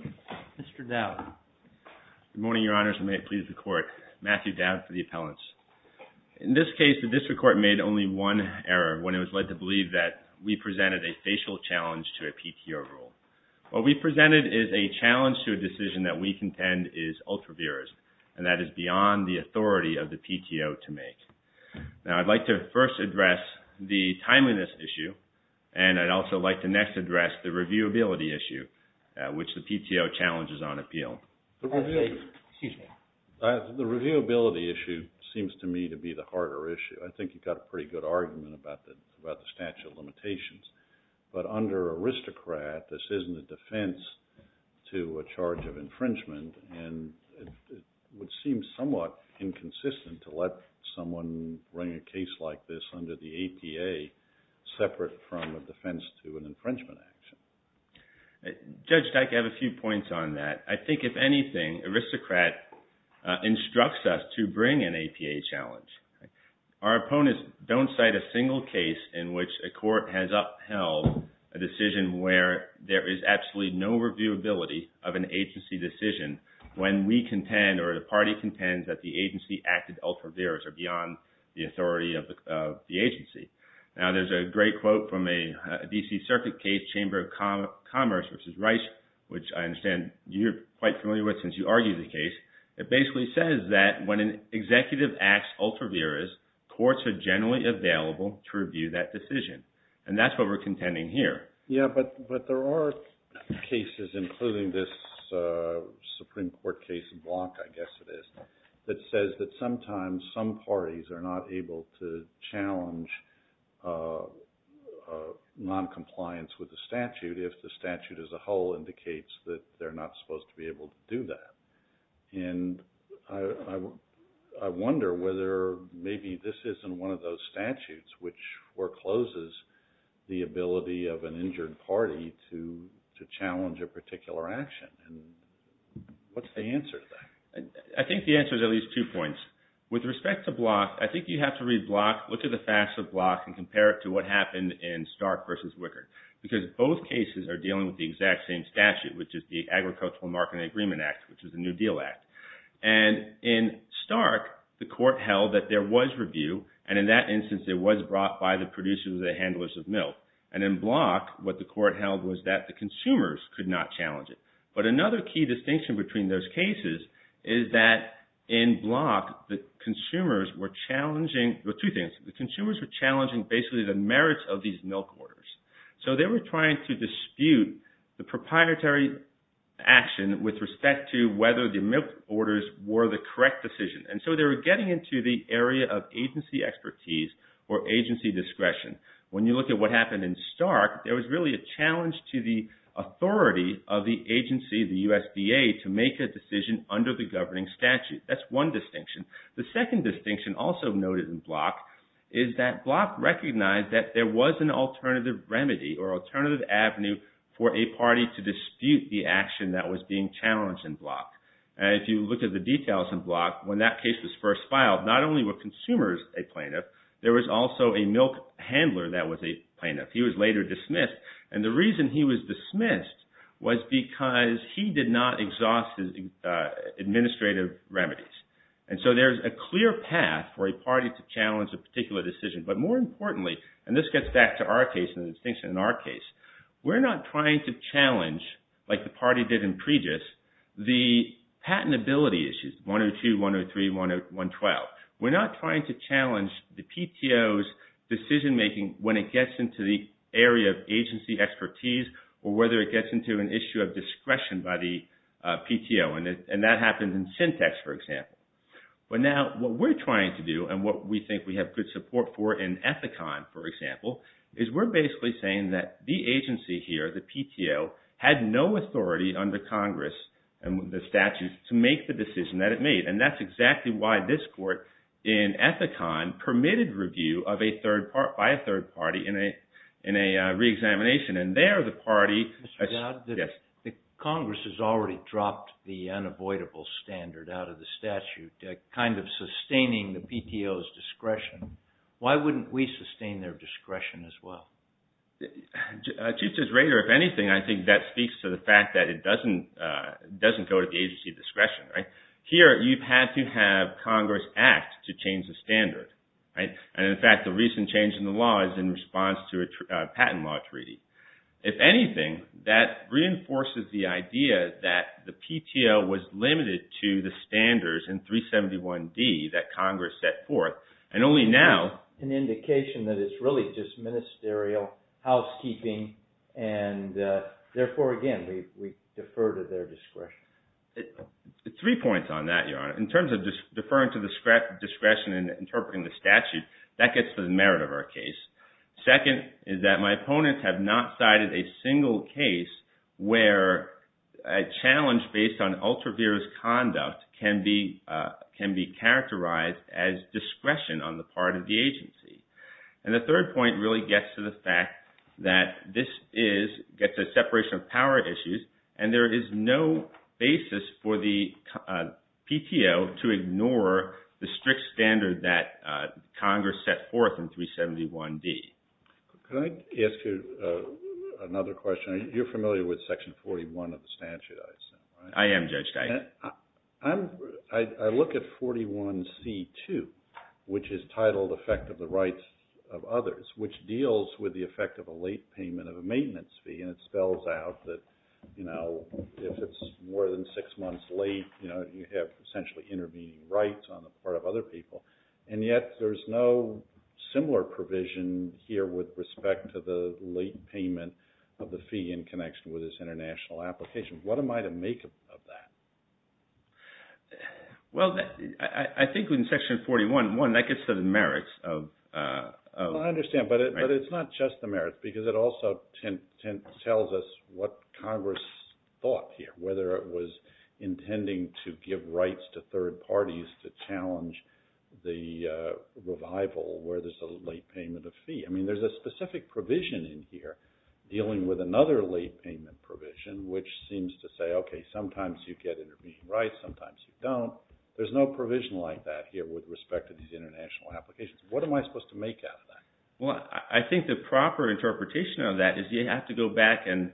Mr. Dowd. Good morning, Your Honors, and may it please the Court. Matthew Dowd for the Appellants. In this case, the District Court made only one error when it was led to believe that we presented a facial challenge to a PTO rule. What we presented is a challenge to a decision that we contend is ultra-virus, and that is beyond the authority of the PTO to make. Now, I'd like to first address the timeliness issue, and I'd also like to next address the reviewability issue, which the PTO challenges on appeal. The reviewability issue seems to me to be the harder issue. I think you've got a pretty good argument about the statute of limitations, but under aristocrat, this isn't a defense to a charge of infringement, and it would seem somewhat inconsistent to let someone bring a case like this under the APA separate from a defense to an APA. Judge, I have a few points on that. I think, if anything, aristocrat instructs us to bring an APA challenge. Our opponents don't cite a single case in which a court has upheld a decision where there is absolutely no reviewability of an agency decision when we contend, or the party contends, that the agency acted ultra-virus or beyond the authority of the agency. Now, there's a great quote from a DC Circuit case, Chamber of Commerce v. Rice, which I understand you're quite familiar with since you argue the case. It basically says that when an executive acts ultra-virus, courts are generally available to review that decision, and that's what we're contending here. Yeah, but there are cases, including this Supreme Court case in Blanc, I guess it is, that says that sometimes some parties are not able to challenge non-compliance with the statute if the statute as a whole indicates that they're not supposed to be able to do that, and I wonder whether maybe this isn't one of those statutes which forecloses the ability of an injured party to challenge a particular action, and what's the answer to that? I think the answer is at least two points. With respect to Blanc, I think you have to read Blanc, look at the facts of Blanc, and compare it to what happened in Stark v. Wickard, because both cases are dealing with the exact same statute, which is the Agricultural Marketing Agreement Act, which is a New Deal Act, and in Stark, the court held that there was review, and in that instance, it was brought by the producers or the handlers of milk, and in another key distinction between those cases is that in Blanc, the consumers were challenging, well two things, the consumers were challenging basically the merits of these milk orders, so they were trying to dispute the proprietary action with respect to whether the milk orders were the correct decision, and so they were getting into the area of agency expertise or agency discretion. When you look at what happened in Stark, there was really a challenge to the authority of the agency, the USDA, to make a decision under the governing statute. That's one distinction. The second distinction also noted in Blanc is that Blanc recognized that there was an alternative remedy or alternative avenue for a party to dispute the action that was being challenged in Blanc, and if you look at the details in Blanc, when that case was first filed, not only were consumers a plaintiff, there was also a milk handler that was a plaintiff. He was later dismissed because he did not exhaust his administrative remedies, and so there's a clear path for a party to challenge a particular decision, but more importantly, and this gets back to our case and the distinction in our case, we're not trying to challenge, like the party did in Preggis, the patentability issues 102, 103, 112. We're not trying to challenge the PTO's decision-making when it gets into the area of agency expertise or whether it gets into an issue of discretion by the PTO, and that happens in Syntex, for example. But now what we're trying to do and what we think we have good support for in Ethicon, for example, is we're basically saying that the agency here, the PTO, had no authority under Congress and the statutes to make the decision that it made, and that's exactly why this court in Ethicon permitted review of a third party in a re-examination, and there the party... Mr. Dodd, Congress has already dropped the unavoidable standard out of the statute, kind of sustaining the PTO's discretion. Why wouldn't we sustain their discretion as well? Chief Justice Rader, if anything, I think that speaks to the fact that it doesn't go to the agency discretion, right? Here, you've had to have Congress act to change the standard, right? And in fact, the recent change in law is in response to a patent law treaty. If anything, that reinforces the idea that the PTO was limited to the standards in 371D that Congress set forth, and only now... An indication that it's really just ministerial housekeeping and therefore, again, we defer to their discretion. Three points on that, Your Honor. In terms of just deferring to the discretion in interpreting the case. Second, is that my opponents have not cited a single case where a challenge based on ultra-virus conduct can be characterized as discretion on the part of the agency. And the third point really gets to the fact that this gets a separation of power issue, and there is no basis for the PTO to ignore the strict set forth in 371D. Can I ask you another question? You're familiar with Section 41 of the statute, I assume, right? I am, Judge Geisler. I look at 41C2, which is titled Effect of the Rights of Others, which deals with the effect of a late payment of a maintenance fee, and it spells out that if it's more than six months late, you have essentially intervening rights on the part of other people. And yet, there's no similar provision here with respect to the late payment of the fee in connection with this international application. What am I to make of that? Well, I think in Section 41, one, that gets to the merits of... I understand, but it's not just the merits, because it also tells us what Congress thought here, whether it was intending to give rights to third parties to challenge the revival where there's a late payment of fee. I mean, there's a specific provision in here dealing with another late payment provision, which seems to say, okay, sometimes you get intervening rights, sometimes you don't. There's no provision like that here with respect to these international applications. What am I supposed to make out of that? Well, I think the proper interpretation of that is you have to go back and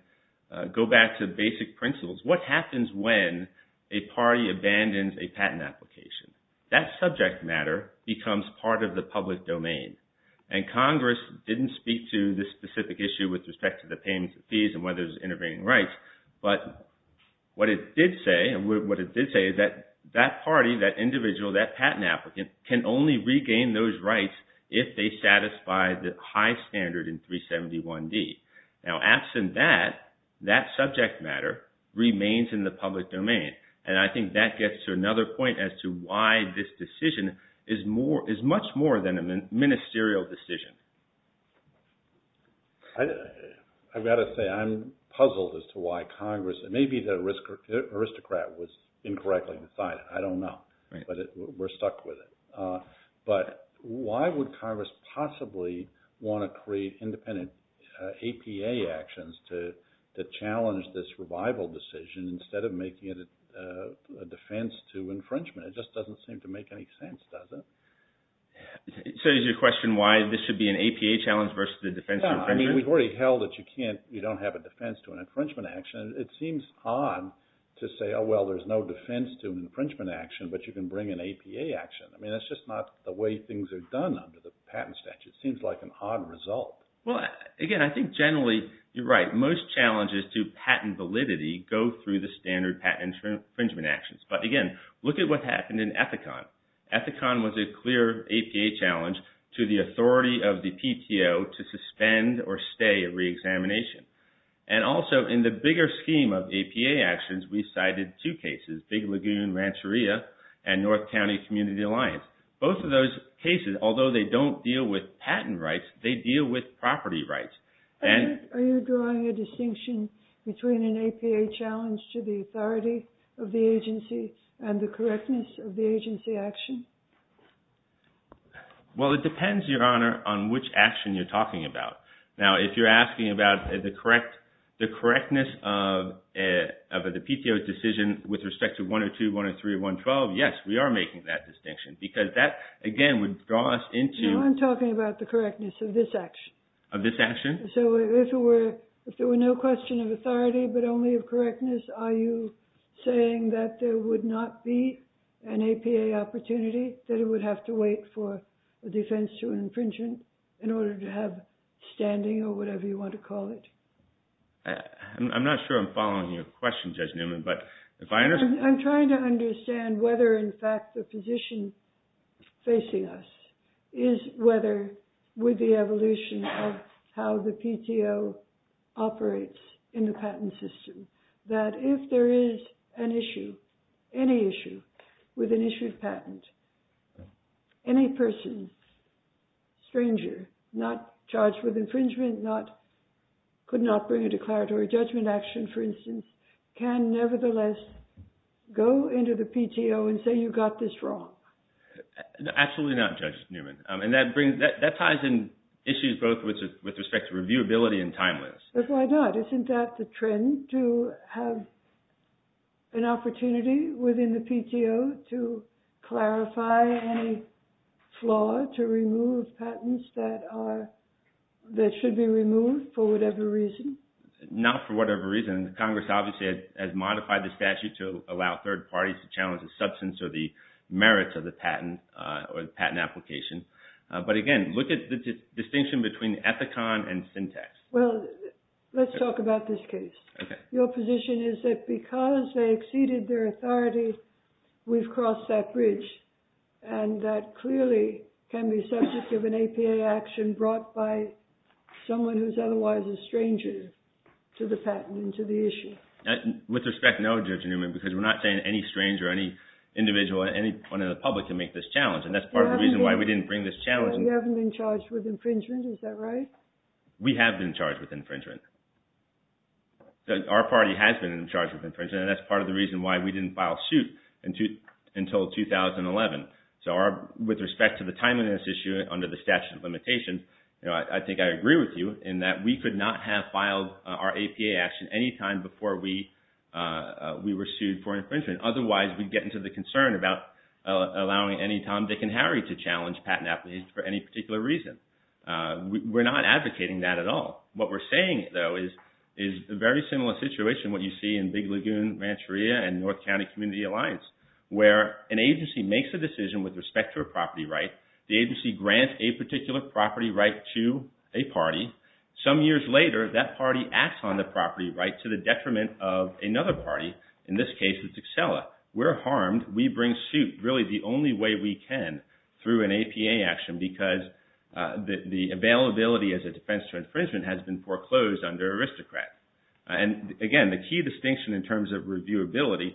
go back to basic principles. What happens when a party abandons a patent application? That subject matter becomes part of the public domain. And Congress didn't speak to this specific issue with respect to the payment of fees and whether there's intervening rights, but what it did say, and what it did say, is that that party, that individual, that patent applicant, can only regain those rights if they satisfy the high standard in 371D. Now, absent that, that subject matter remains in the public domain, and I think that gets to another point as to why this decision is much more than a ministerial decision. I've got to say, I'm puzzled as to why Congress, and maybe the aristocrat was incorrectly decided, I don't know, but we're stuck with it. But why would Congress possibly want to create independent APA actions to challenge this revival decision instead of making it a defense to infringement? It just doesn't seem to make any sense, does it? So is your question why this should be an APA challenge versus a defense to infringement? Yeah, I mean, we've already held that you can't, you don't have a defense to an infringement action. It seems odd to say, oh, well, there's no defense to an infringement action. You can't even bring an APA action. I mean, that's just not the way things are done under the patent statute. It seems like an odd result. Well, again, I think generally, you're right. Most challenges to patent validity go through the standard patent infringement actions. But again, look at what happened in Ethicon. Ethicon was a clear APA challenge to the authority of the PTO to suspend or stay a re-examination. And also, in the bigger case, North County Community Alliance. Both of those cases, although they don't deal with patent rights, they deal with property rights. Are you drawing a distinction between an APA challenge to the authority of the agency and the correctness of the agency action? Well, it depends, Your Honor, on which action you're talking about. Now, if you're asking about the correctness of the PTO's decision with respect to patent rights, we are making that distinction. Because that, again, would draw us into... No, I'm talking about the correctness of this action. Of this action? So, if there were no question of authority, but only of correctness, are you saying that there would not be an APA opportunity? That it would have to wait for a defense to infringement in order to have standing, or whatever you want to call it? I'm not sure I'm following your question, Judge Newman, but if I understand... I'm trying to understand whether, in fact, the position facing us is whether, with the evolution of how the PTO operates in the patent system, that if there is an issue, any issue, with an issued patent, any person, stranger, not charged with infringement, could not bring a declaratory judgment action, for instance, can nevertheless go into the PTO and say, you got this wrong. Absolutely not, Judge Newman. And that ties in issues both with respect to reviewability and timeliness. But why not? Isn't that the trend, to have an opportunity within the PTO to clarify any flaw to remove patents that should be removed for whatever reason? Not for whatever reason. Congress, obviously, has modified the statute to allow third parties to challenge the substance or the merits of the patent application. But again, look at the distinction between ethicon and syntax. Well, let's talk about this case. Your position is that because they exceeded their authority, we've crossed that bridge, and that clearly can be subject to an APA action brought by someone who's otherwise a stranger to the patent and to the issue. With respect, no, Judge Newman, because we're not saying any stranger, any individual, anyone in the public can make this challenge. And that's part of the reason why we didn't bring this challenge. You haven't been charged with infringement, is that right? We have been charged with infringement. Our party has been charged with infringement, and that's part of the reason why we didn't file suit until 2011. So with respect to the timeliness issue under the statute of limitations, I think I agree with you in that we could not have filed our APA action any time before we were sued for infringement. Otherwise, we'd get into the concern about allowing any Tom, Dick, and Harry to challenge patent application for any particular reason. We're not advocating that at all. What we're saying, though, is a very similar situation, what you see in Big Lagoon, Rancheria, and North County Community Alliance, where an agency makes a decision with respect to a property right. The agency grants a particular property right to a party. Some years later, that party acts on the property right to the detriment of another party. In this case, it's Acela. We're harmed. We bring suit really the only way we can through an APA action because the availability as a defense to infringement has been foreclosed under aristocrat. And again, the key distinction in terms of reviewability,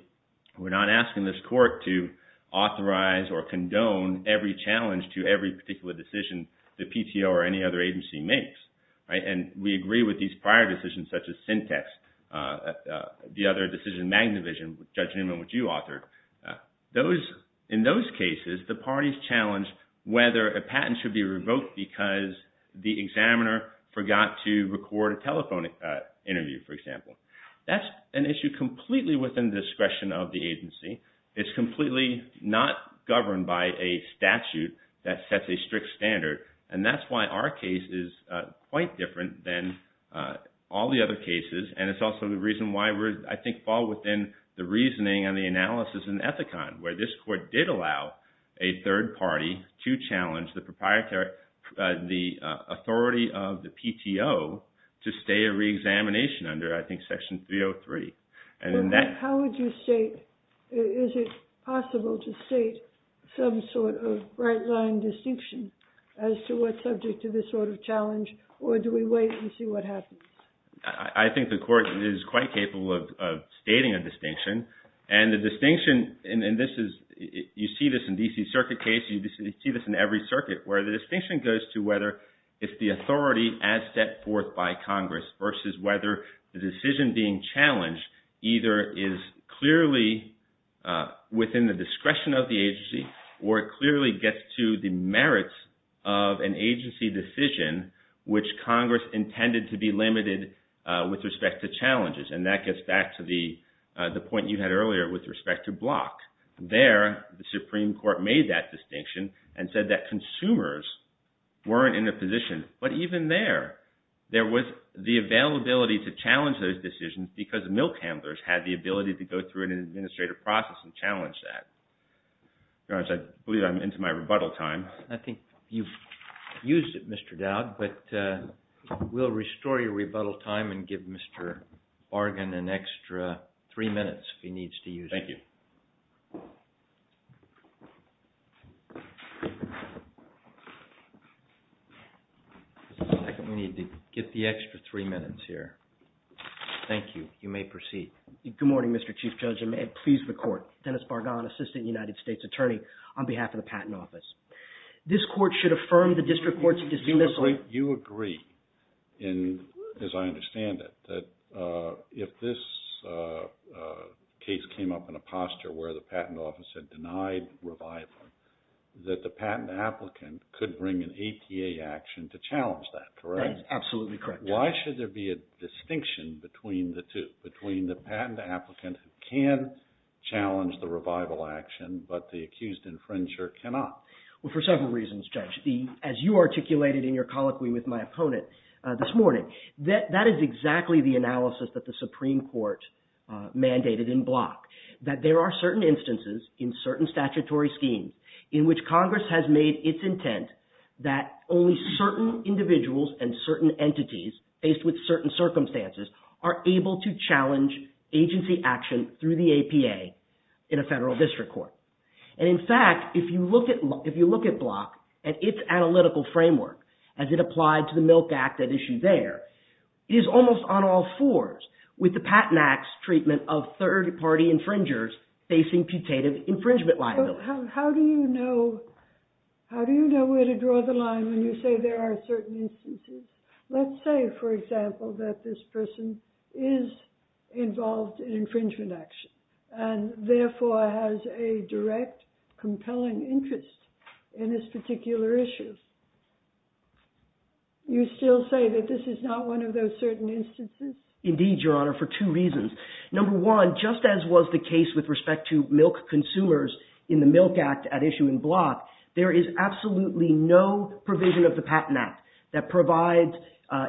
we're not asking this court to authorize or condone every challenge to every particular decision the PTO or any other agency makes, right? And we agree with these prior decisions such as Syntex, the other decision Magnavision, Judge Newman, which you authored. In those cases, the parties challenge whether a patent should be revoked because the examiner forgot to record a telephone interview, for example. That's an issue completely within discretion of the agency. It's completely not governed by a statute that sets a strict standard. And that's why our case is quite different than all the other cases. And it's also the reason why we, I think, fall within the reasoning and the analysis in Ethicon, where this court did allow a third party to challenge the authority of the PTO to stay a re-examination under, I think, Section 303. And in that... How would you state, is it possible to state some sort of right-line distinction as to what's subject to this sort of challenge? Or do we wait and see what happens? I think the court is quite capable of stating a distinction. And the distinction, and this is, you see this in D.C. Circuit cases, you see this in every circuit, where the distinction goes to whether if the authority as set forth by Congress versus whether the decision being challenged either is clearly within the discretion of the agency or it clearly gets to the merits of an agency decision which Congress intended to be limited with respect to challenges. And that gets back to the point you had earlier with respect to Block. There, the Supreme Court made that distinction and said that consumers weren't in a position. But even there, there was the availability to challenge those decisions because milk handlers had the ability to go through an administrative process and challenge that. I believe I'm into my rebuttal time. I think you've used it, Mr. Dowd, but we'll restore your rebuttal time and give Mr. Bargan an extra three minutes if he needs to use it. Thank you. Just a second. We need to get the extra three minutes here. Thank you. You may proceed. Good morning, Mr. Chief Judge. And may it please the Court. Dennis Bargan, Assistant United States Attorney, on behalf of the Patent Office. This Court should affirm the District Court's decision... You agree, as I understand it, that if this case came up in a posture where the Patent Office had denied revival, that the patent applicant could bring an ATA action to challenge that, correct? That is absolutely correct. Why should there be a distinction between the two, between the patent applicant who can challenge the revival action but the accused infringer cannot? Well, for several reasons, Judge. As you articulated in your colloquy with my opponent this morning, that is exactly the analysis that the Supreme Court mandated in Block, that there are certain instances in certain statutory schemes in which Congress has made its intent that only certain individuals and certain entities, faced with certain circumstances, are able to challenge agency action through the APA in a federal district court. And in fact, if you look at Block and its analytical framework, as it applied to the Milk Act at issue there, it is almost on all fours with the Patent Act's treatment of third-party infringers facing putative infringement liability. How do you know where to draw the line when you say there are certain instances? Let's say, for example, that this person is involved in infringement action and therefore has a direct compelling interest in this particular issue. You still say that this is not one of those certain instances? Indeed, Your Honor, for two reasons. Number one, just as was the case with respect to milk consumers in the Milk Act at issue in Block, there is absolutely no provision of the Patent Act that provides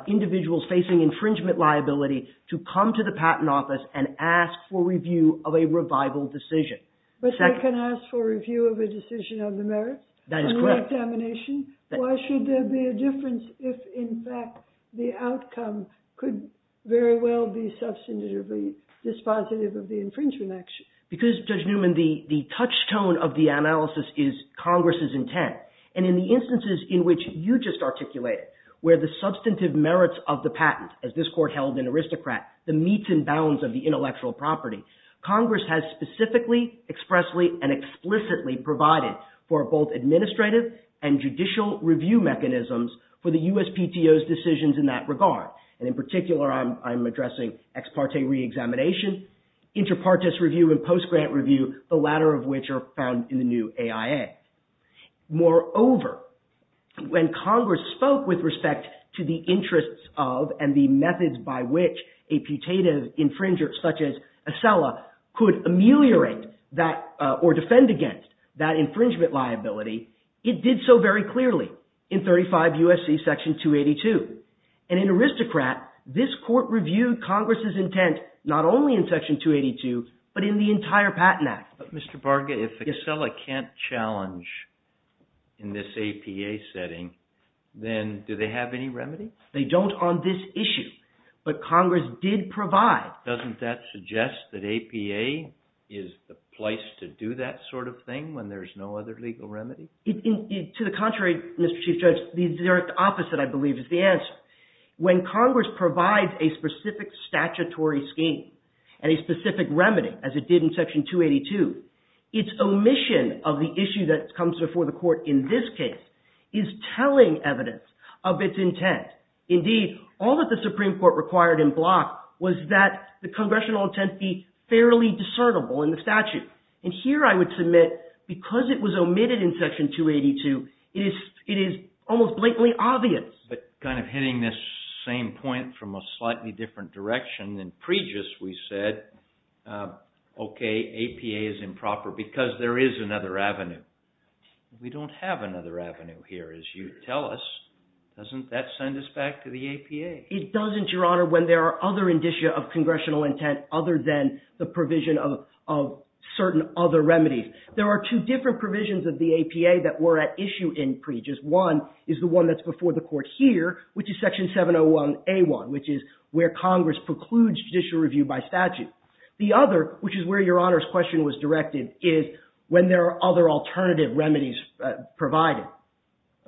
individuals facing infringement liability to come to the Patent Office and ask for review of a revival decision. But they can ask for review of a decision of the merits? That is correct. Why should there be a difference if, in fact, the outcome could very well be substantively dispositive of the infringement action? Because, Judge Newman, the touchstone of the analysis is Congress's intent. And in the instances in which you just articulated, where the substantive merits of the patent, as this Court held in Aristocrat, the meets and bounds of the intellectual property, Congress has specifically, expressly, and explicitly provided for both administrative and judicial review mechanisms for the USPTO's decisions in that regard. And in particular, I'm addressing ex parte re-examination, inter partes review, and post-grant review, the latter of which are found in the new AIA. Moreover, when Congress spoke with respect to the interests of and the methods by which a putative infringer, such as Acela, could ameliorate or defend against that infringement liability, it did so very clearly in 35 U.S.C. Section 282. And in Aristocrat, this Court reviewed Congress's intent not only in Section 282, but in the entire Patent Act. But Mr. Barga, if Acela can't challenge in this APA setting, then do they have any remedy? They don't on this issue. But Congress did provide. Doesn't that suggest that APA is the place to do that sort of thing when there's no other legal remedy? To the contrary, Mr. Chief Judge, the opposite, I believe, is the answer. When Congress provides a specific statutory scheme and a specific remedy, as it did in Section 282, its omission of the issue that comes before the Court in this case is telling evidence of its intent. Indeed, all that the Supreme Court required in Block was that the Congressional intent be fairly discernible in the statute. And here I would submit, because it was omitted in Section 282, it is almost blatantly obvious. But kind of hitting this same point from a slightly different direction, in Pregis we said, okay, APA is improper because there is another avenue. We don't have another avenue here, as you tell us. Doesn't that send us back to the APA? It doesn't, Your Honor, when there are other indicia of Congressional intent other than the provision of certain other remedies. There are two different provisions of the APA that were at issue in Pregis. One is the one that's before the Court here, which is Section 701A1, which is where Congress precludes judicial review by statute. The other, which is where Your Honor's question was directed, is when there are other alternative remedies provided.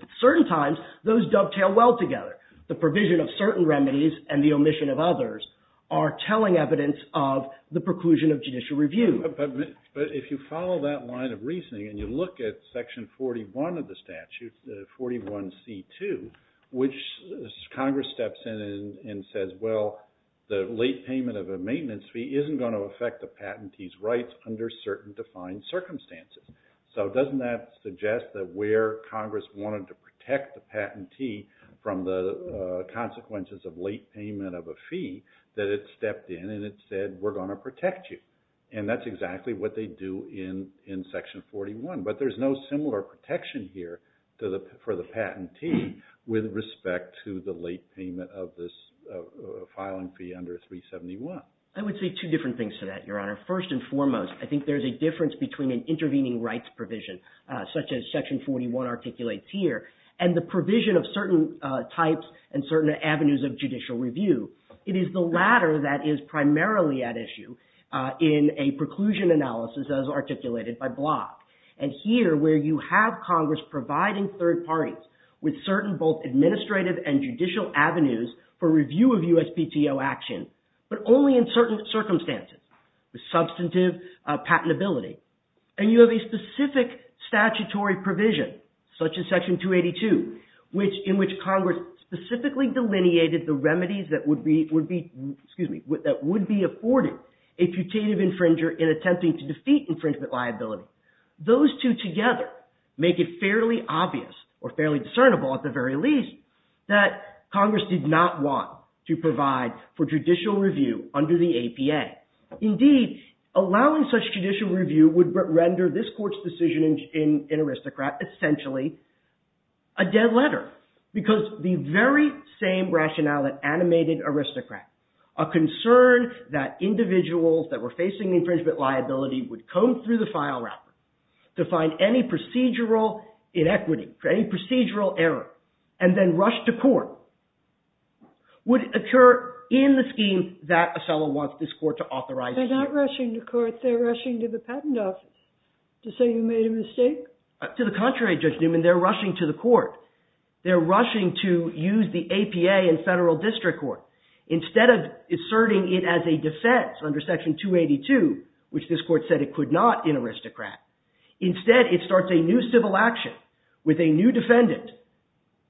At certain times, those dovetail well together. The provision of certain remedies and the omission of others are telling evidence of the preclusion of judicial review. But if you follow that line of reasoning and you look at Section 41 of the statute, 41C2, which Congress steps in and says, well, the late payment of a maintenance fee isn't going to affect the patentee's rights under certain defined circumstances. So doesn't that suggest that where Congress wanted to protect the patentee from the consequences of late payment of a fee, that it stepped in and it said, we're going to protect you. And that's exactly what they do in Section 41. But there's no similar protection here for the patentee with respect to the late payment of this filing fee under 371. I would say two different things to that, Your Honor. First and foremost, I think there's a difference between an intervening rights provision, such as Section 41 articulates here, and the provision of certain types and certain avenues of judicial review. It is the latter that is primarily at issue in a preclusion analysis as articulated by Block. And here, where you have Congress providing third parties with certain both administrative and judicial avenues for review of USPTO action, but only in certain circumstances, with substantive patentability. And you have a specific statutory provision, such as Section 282, in which Congress specifically delineated the remedies that would be afforded a putative infringer in attempting to defeat infringement liability. Those two together make it fairly obvious, or fairly discernible at the very least, that Congress did not want to provide for judicial review under the APA. Indeed, allowing such judicial review would render this court's decision in Aristocrat essentially a dead letter. Because the very same rationale that animated Aristocrat, a concern that individuals that were facing infringement liability would comb through the file wrapper to find any procedural inequity, any procedural error, and then rush to court, would occur in the scheme that Othello wants this court to authorize. They're not rushing to court. It's like they're rushing to the patent office to say you made a mistake. To the contrary, Judge Newman, they're rushing to the court. They're rushing to use the APA in federal district court. Instead of asserting it as a defense under Section 282, which this court said it could not in Aristocrat, instead it starts a new civil action with a new defendant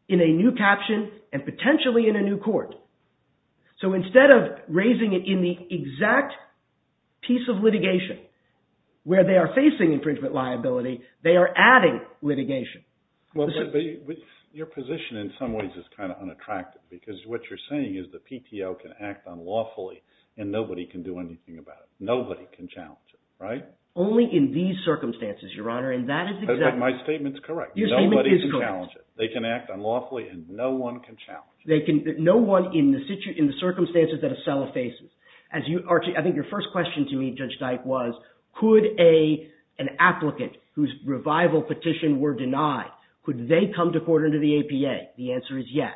in a new caption, and potentially in a new court. So instead of raising it in the exact piece of litigation where they are facing infringement liability, they are adding litigation. Your position in some ways is kind of unattractive because what you're saying is the PTO can act unlawfully and nobody can do anything about it. Nobody can challenge it, right? Only in these circumstances, Your Honor, and that is exactly My statement's correct. Your statement is correct. Nobody can challenge it. They can act unlawfully and no one can challenge it. In the circumstances that Acela faces, I think your first question to me, Judge Dike, was could an applicant whose revival petition were denied, could they come to court under the APA? The answer is yes.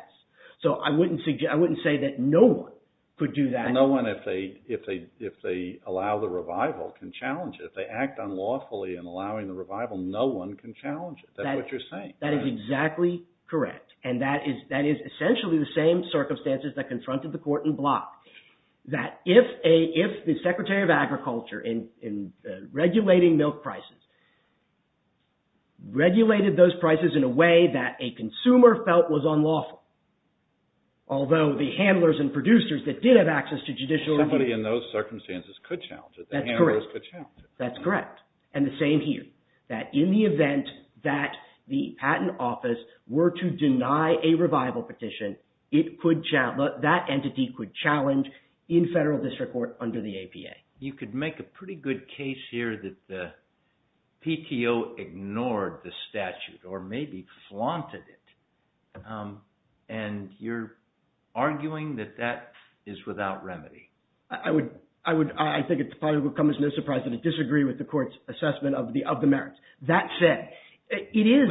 So I wouldn't say that no one could do that. No one, if they allow the revival, can challenge it. If they act unlawfully in allowing the revival, no one can challenge it. That's what you're saying. That is exactly correct. And that is essentially the same circumstances that confronted the court in Block, that if the Secretary of Agriculture in regulating milk prices, regulated those prices in a way that a consumer felt was unlawful, although the handlers and producers that did have access to judicial review. Somebody in those circumstances could challenge it. That's correct. And the same here, that in the event that the patent office were to deny a revival petition, that entity could challenge in federal district court under the APA. You could make a pretty good case here that the PTO ignored the statute, or maybe flaunted it. And you're arguing that that is without remedy. I think it probably would come as no surprise that I disagree with the court's assessment of the merits. That said, it is.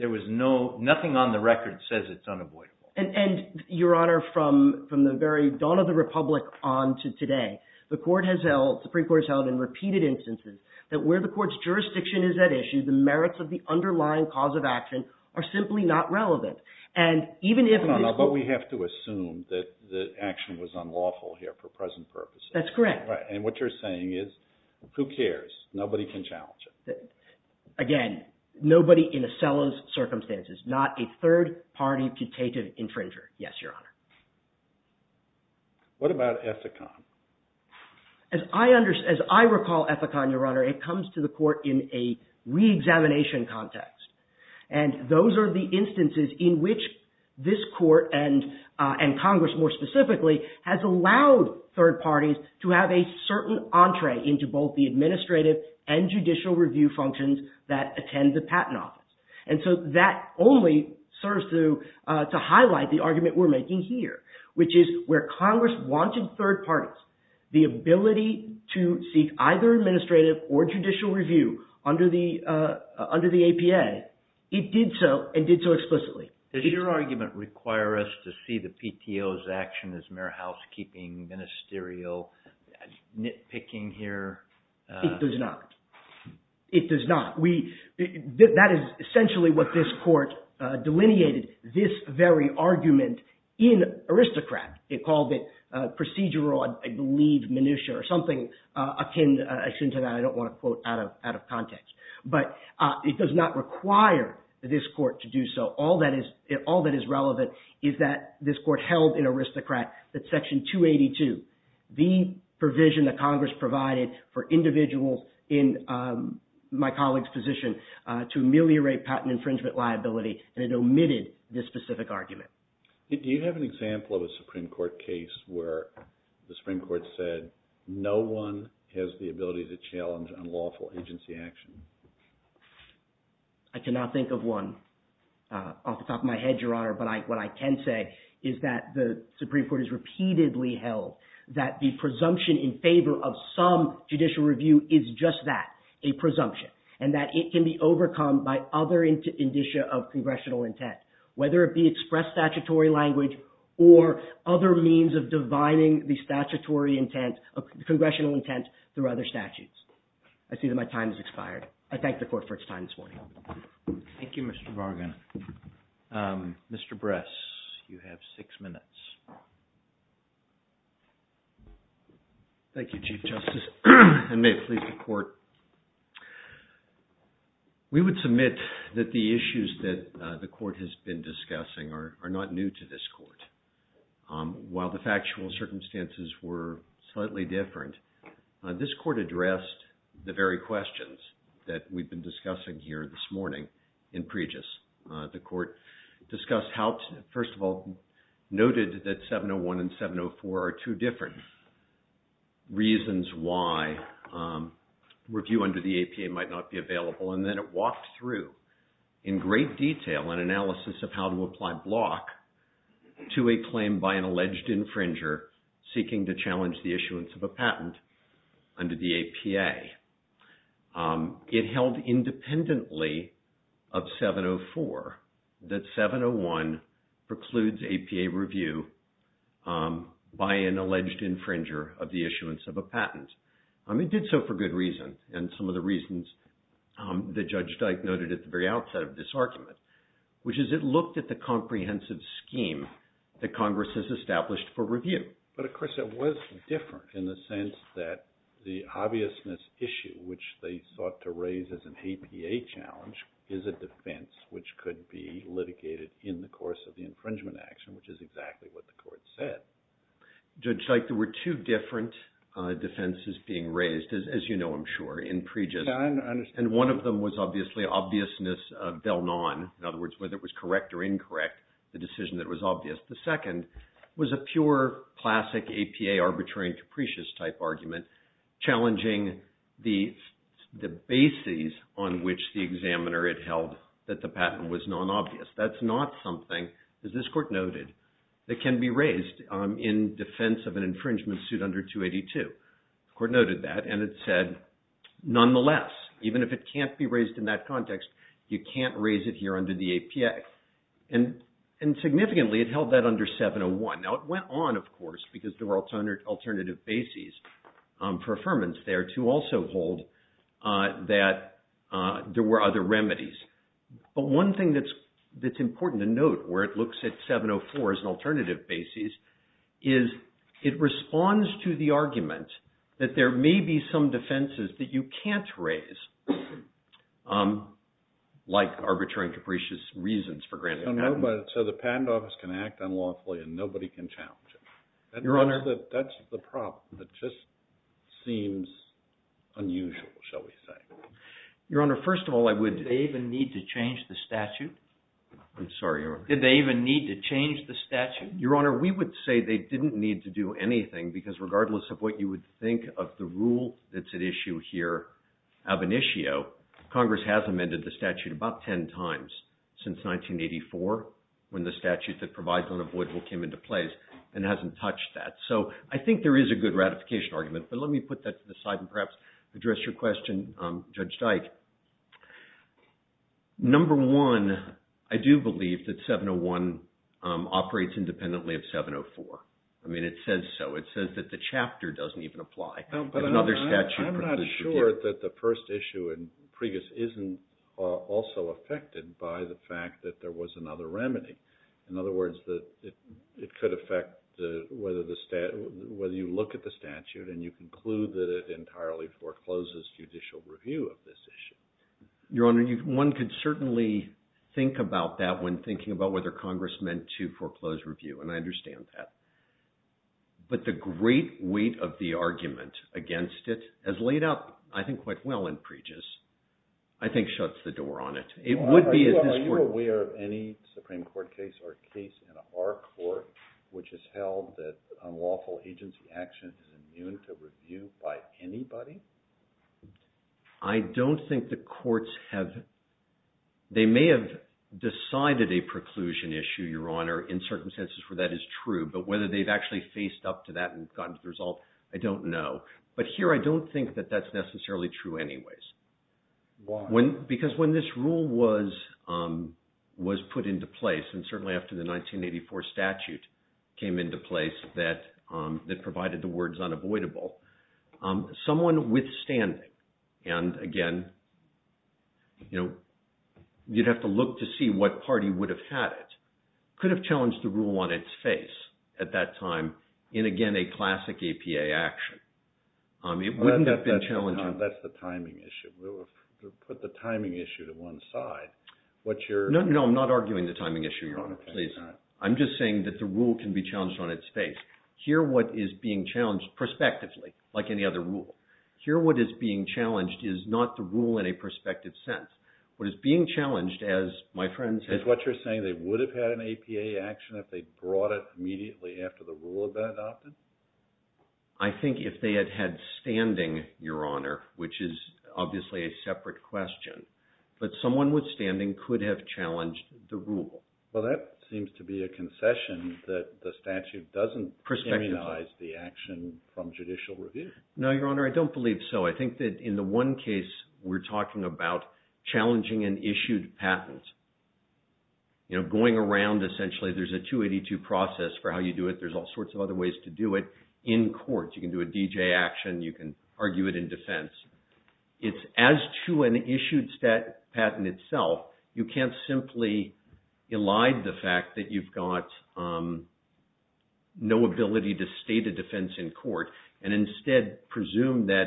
Nothing on the record says it's unavoidable. And Your Honor, from the very dawn of the republic on to today, the Supreme Court has held in repeated instances that where the court's jurisdiction is at issue, the merits of the underlying cause of action are simply not relevant. But we have to assume that the action was unlawful here for present purposes. That's correct. And what you're saying is, who cares? Nobody can challenge it. Again, nobody in Osella's circumstances. Not a third party dictative infringer. Yes, Your Honor. What about Ethicon? As I recall Ethicon, Your Honor, it comes to the court in a re-examination context. And those are the instances in which this court and Congress, more specifically, has allowed third parties to have a certain entree into both the administrative and judicial review functions that attend the patent office. And so that only serves to highlight the argument we're making here, which is where Congress wanted third parties the ability to seek either administrative or judicial review under the APA. It did so, and did so explicitly. Does your argument require us to see the PTO's action as mere housekeeping, ministerial, nitpicking here? It does not. It does not. That is essentially what this court delineated, this very argument in aristocrat. It called it procedural, I believe, minutia, or something akin to that. I don't want to quote out of context. But it does not require this court to do so. All that is relevant is that this court held in aristocrat that Section 282, the provision that Congress provided for individuals in my colleague's position to ameliorate patent infringement liability. And it omitted this specific argument. Do you have an example of a Supreme Court case where the Supreme Court said no one has the ability to challenge unlawful agency action? I cannot think of one off the top of my head, Your Honor. But what I can say is that the Supreme Court has repeatedly held that the presumption in favor of some judicial review is just that, a presumption, and that it can be overcome by other indicia of congressional intent, whether it be expressed statutory language or other means of divining the congressional intent through other statutes. I see that my time has expired. I thank the court for its time this morning. Thank you, Mr. Bargan. Mr. Bress, you have six minutes. Thank you, Chief Justice. And may it please the court, we would submit that the issues that the court has been discussing are not new to this court. While the factual circumstances were slightly different, this court addressed the very questions that we've been discussing here this morning in Pregis. The court discussed how, first of all, noted that 701 and 704 are two different reasons why review under the APA might not be available. And then it walked through, in great detail, an analysis of how to apply block to a claim by an alleged infringer seeking to challenge the issuance of a patent under the APA. It held independently of 704 that 701 precludes APA review by an alleged infringer of the issuance of a patent. It did so for good reason, and some of the reasons that Judge Dyke noted at the very outset of this argument, which is it looked at the comprehensive scheme that Congress has established for review. But, of course, it was different in the sense that the obviousness issue, which they sought to raise as an APA challenge, is a defense which could be litigated in the course of the infringement action, which is exactly what the court said. Judge Dyke, there were two different defenses being raised, as you know, I'm sure, in Pregis. Yeah, I understand. And one of them was obviously obviousness of del non, in other words, whether it was correct or incorrect, the decision that was obvious. The second was a pure, classic APA, arbitrary and capricious type argument, challenging the bases on which the examiner had held that the patent was non-obvious. That's not something, as this court noted, that can be raised in defense of an infringement suit under 282. The court noted that, and it said, nonetheless, even if it can't be raised in that context, you can't raise it here under the APA. And significantly, it held that under 701. Now, it went on, of course, because there were alternative bases for affirmance there to also hold that there were other remedies. But one thing that's important to note, where it looks at 704 as an alternative basis, is it responds to the argument that there may be some defenses that you can't raise, like arbitrary and capricious reasons for granting a patent. So the patent office can act unlawfully and nobody can challenge it. Your Honor. That's the problem. It just seems unusual, shall we say. Your Honor, first of all, I would. Did they even need to change the statute? I'm sorry, Your Honor. Did they even need to change the statute? Your Honor, we would say they didn't need to do anything. Because regardless of what you would think of the rule that's at issue here, ab initio, Congress has amended the statute about 10 times since 1984, when the statute that provides unavoidable came into place. And it hasn't touched that. So I think there is a good ratification argument. But let me put that to the side and perhaps address your question, Judge Dyke. Number one, I do believe that 701 operates independently of 704. I mean, it says so. It says that the chapter doesn't even apply. No, but I'm not sure that the first issue in Priebus isn't also affected by the fact that there was another remedy. In other words, it could affect whether you look at the statute and you conclude that it entirely forecloses judicial review of this issue. Your Honor, one could certainly think about that when thinking about whether Congress meant to foreclose review. And I understand that. But the great weight of the argument against it, as laid out, I think, quite well in Priebus, I think shuts the door on it. Are you aware of any Supreme Court case or case in our court which has held that unlawful agency action is immune to review by anybody? I don't think the courts have. They may have decided a preclusion issue, Your Honor, in certain senses where that is true. But whether they've actually faced up to that and gotten to the result, I don't know. But here, I don't think that that's necessarily true anyways. Why? Because when this rule was put into place, and certainly after the 1984 statute came into place that provided the words unavoidable, someone withstanding, and again, you'd have to look to see what party would have had it, could have challenged the rule on its face at that time in, again, a classic APA action. It wouldn't have been challenging. That's the timing issue. To put the timing issue to one side, what you're No, no, I'm not arguing the timing issue, Your Honor. Please. I'm just saying that the rule can be challenged on its face. Here, what is being challenged prospectively, like any other rule. Here, what is being challenged is not the rule in a prospective sense. What is being challenged, as my friends have Is what you're saying, they would have had an APA action if they brought it immediately after the rule had been adopted? I think if they had had standing, Your Honor, which is obviously a separate question, but someone withstanding could have challenged the rule. Well, that seems to be a concession that the statute doesn't criminalize the action from judicial review. No, Your Honor, I don't believe so. I think that in the one case, we're talking about challenging an issued patent. Going around, essentially, there's a 282 process for how you do it. There's all sorts of other ways to do it in court. You can do a DJ action. You can argue it in defense. It's as to an issued patent itself, you can't simply elide the fact that you've got no ability to state a defense in court and instead presume that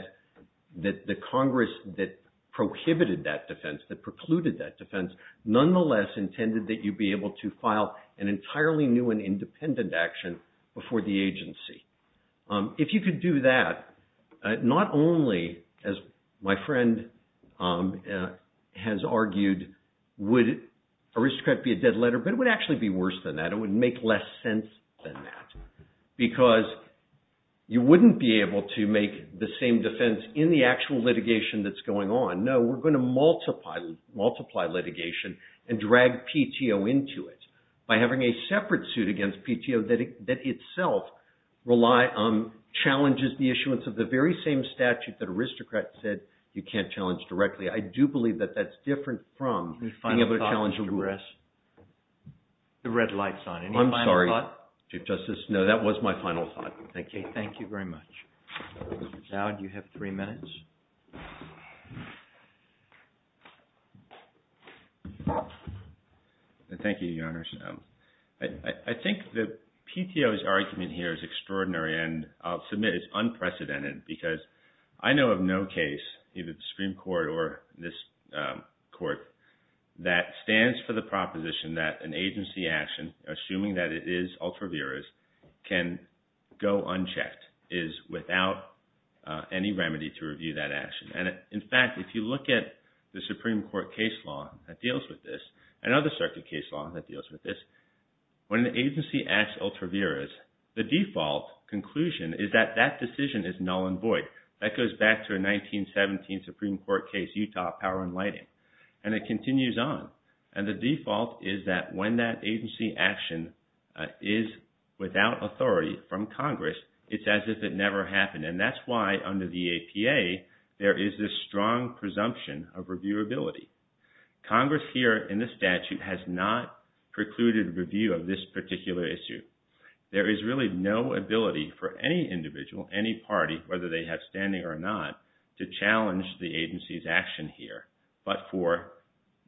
the Congress that prohibited that defense, that precluded that defense, nonetheless intended that you be able to file an entirely new and independent action before the agency. If you could do that, not only, as my friend has argued, would aristocrat be a dead letter, but it would actually be worse than that. It would make less sense than that, because you wouldn't be able to make the same defense in the actual litigation that's going on. No, we're going to multiply litigation and drag PTO into it by having a separate suit against PTO that itself challenges the issuance of the very same statute that aristocrat said you can't challenge directly. I do believe that that's different from being able to challenge directly. Your final thoughts, Mr. Bress? The red light's on. Any final thoughts? I'm sorry, Chief Justice. No, that was my final thought. Thank you. Thank you very much. Mr. Dowd, you have three minutes. Thank you, Your Honors. I think that PTO's argument here is extraordinary, and I'll submit it's unprecedented, because I know of no case, either the Supreme Court or this Court, that stands for the proposition that an agency action, assuming that it is ultra vires, can go unchecked, is without any remedy to review that action. In fact, if you look at the Supreme Court case law that deals with this, and other circuit case laws that deals with this, when an agency acts ultra vires, the default conclusion is that that decision is null and void. That goes back to a 1917 Supreme Court case, Utah Power and Lighting, and it continues on. And the default is that when that agency action is without authority from Congress, it's as if it never happened. And that's why, under the APA, there is this strong presumption of reviewability. Congress here, in this statute, has not precluded review of this particular issue. There is really no ability for any individual, any party, whether they have standing or not, to challenge the agency's action here, but for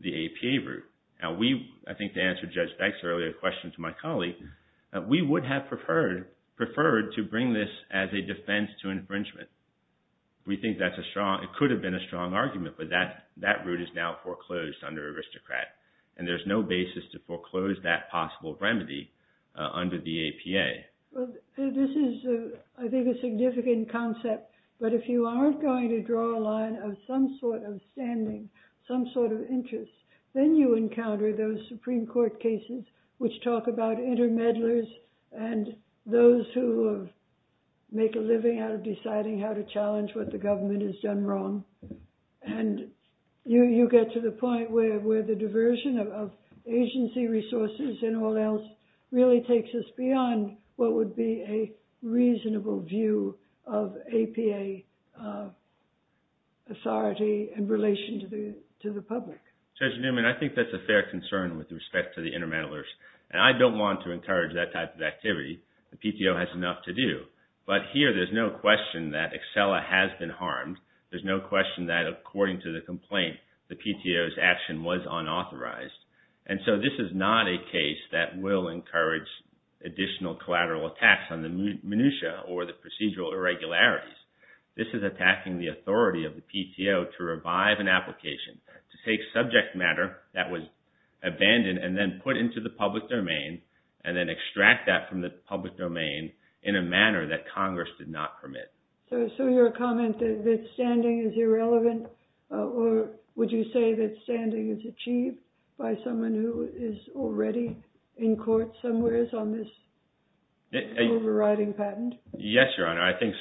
the APA route. Now we, I think to answer Judge Dykes' earlier question to my colleague, we would have preferred to bring this as a defense to infringement. We think that's a strong, it could have been a strong argument, but that route is now foreclosed under Aristocrat, and there's no basis to foreclose that possible remedy under the APA. Well, this is, I think, a significant concept, but if you aren't going to draw a line of some sort of standing, some sort of interest, then you encounter those Supreme Court cases which talk about intermediaries and those who make a living out of deciding how to challenge what the government has done wrong. And you get to the point where the diversion of agency resources and all else really takes us beyond what would be a reasonable view of APA authority in relation to the public. Judge Newman, I think that's a fair concern with respect to the intermediaries, and I don't want to encourage that type of activity. The PTO has enough to do, but here there's no question that Excella has been harmed. There's no question that, according to the complaint, the PTO's action was unauthorized. And so this is not a case that will encourage additional collateral attacks on the minutiae or the procedural irregularities. This is attacking the authority of the PTO to revive an application to take subject matter that was abandoned and then put into the public domain and then extract that from the public domain in a manner that Congress did not permit. So your comment that standing is irrelevant, or would you say that standing is achieved by someone who is already in court somewhere on this overriding patent? Yes, Your Honor. I think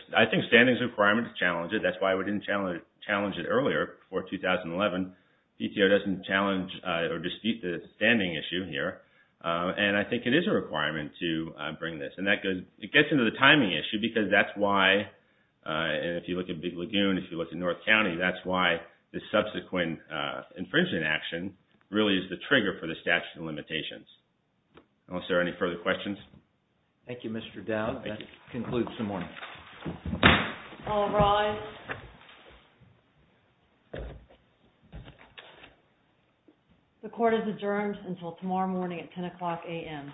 standing is a requirement to challenge it. That's why we didn't challenge it earlier, before 2011. PTO doesn't challenge or dispute the standing issue here. And I think it is a requirement to bring this. And it gets into the timing issue because that's why, if you look at Big Lagoon, if you look at North County, that's why the subsequent infringement action really is the trigger for the statute of limitations. Unless there are any further questions? Thank you, Mr. Dowd. That concludes the morning. All rise. The court is adjourned until tomorrow morning at 10 o'clock a.m.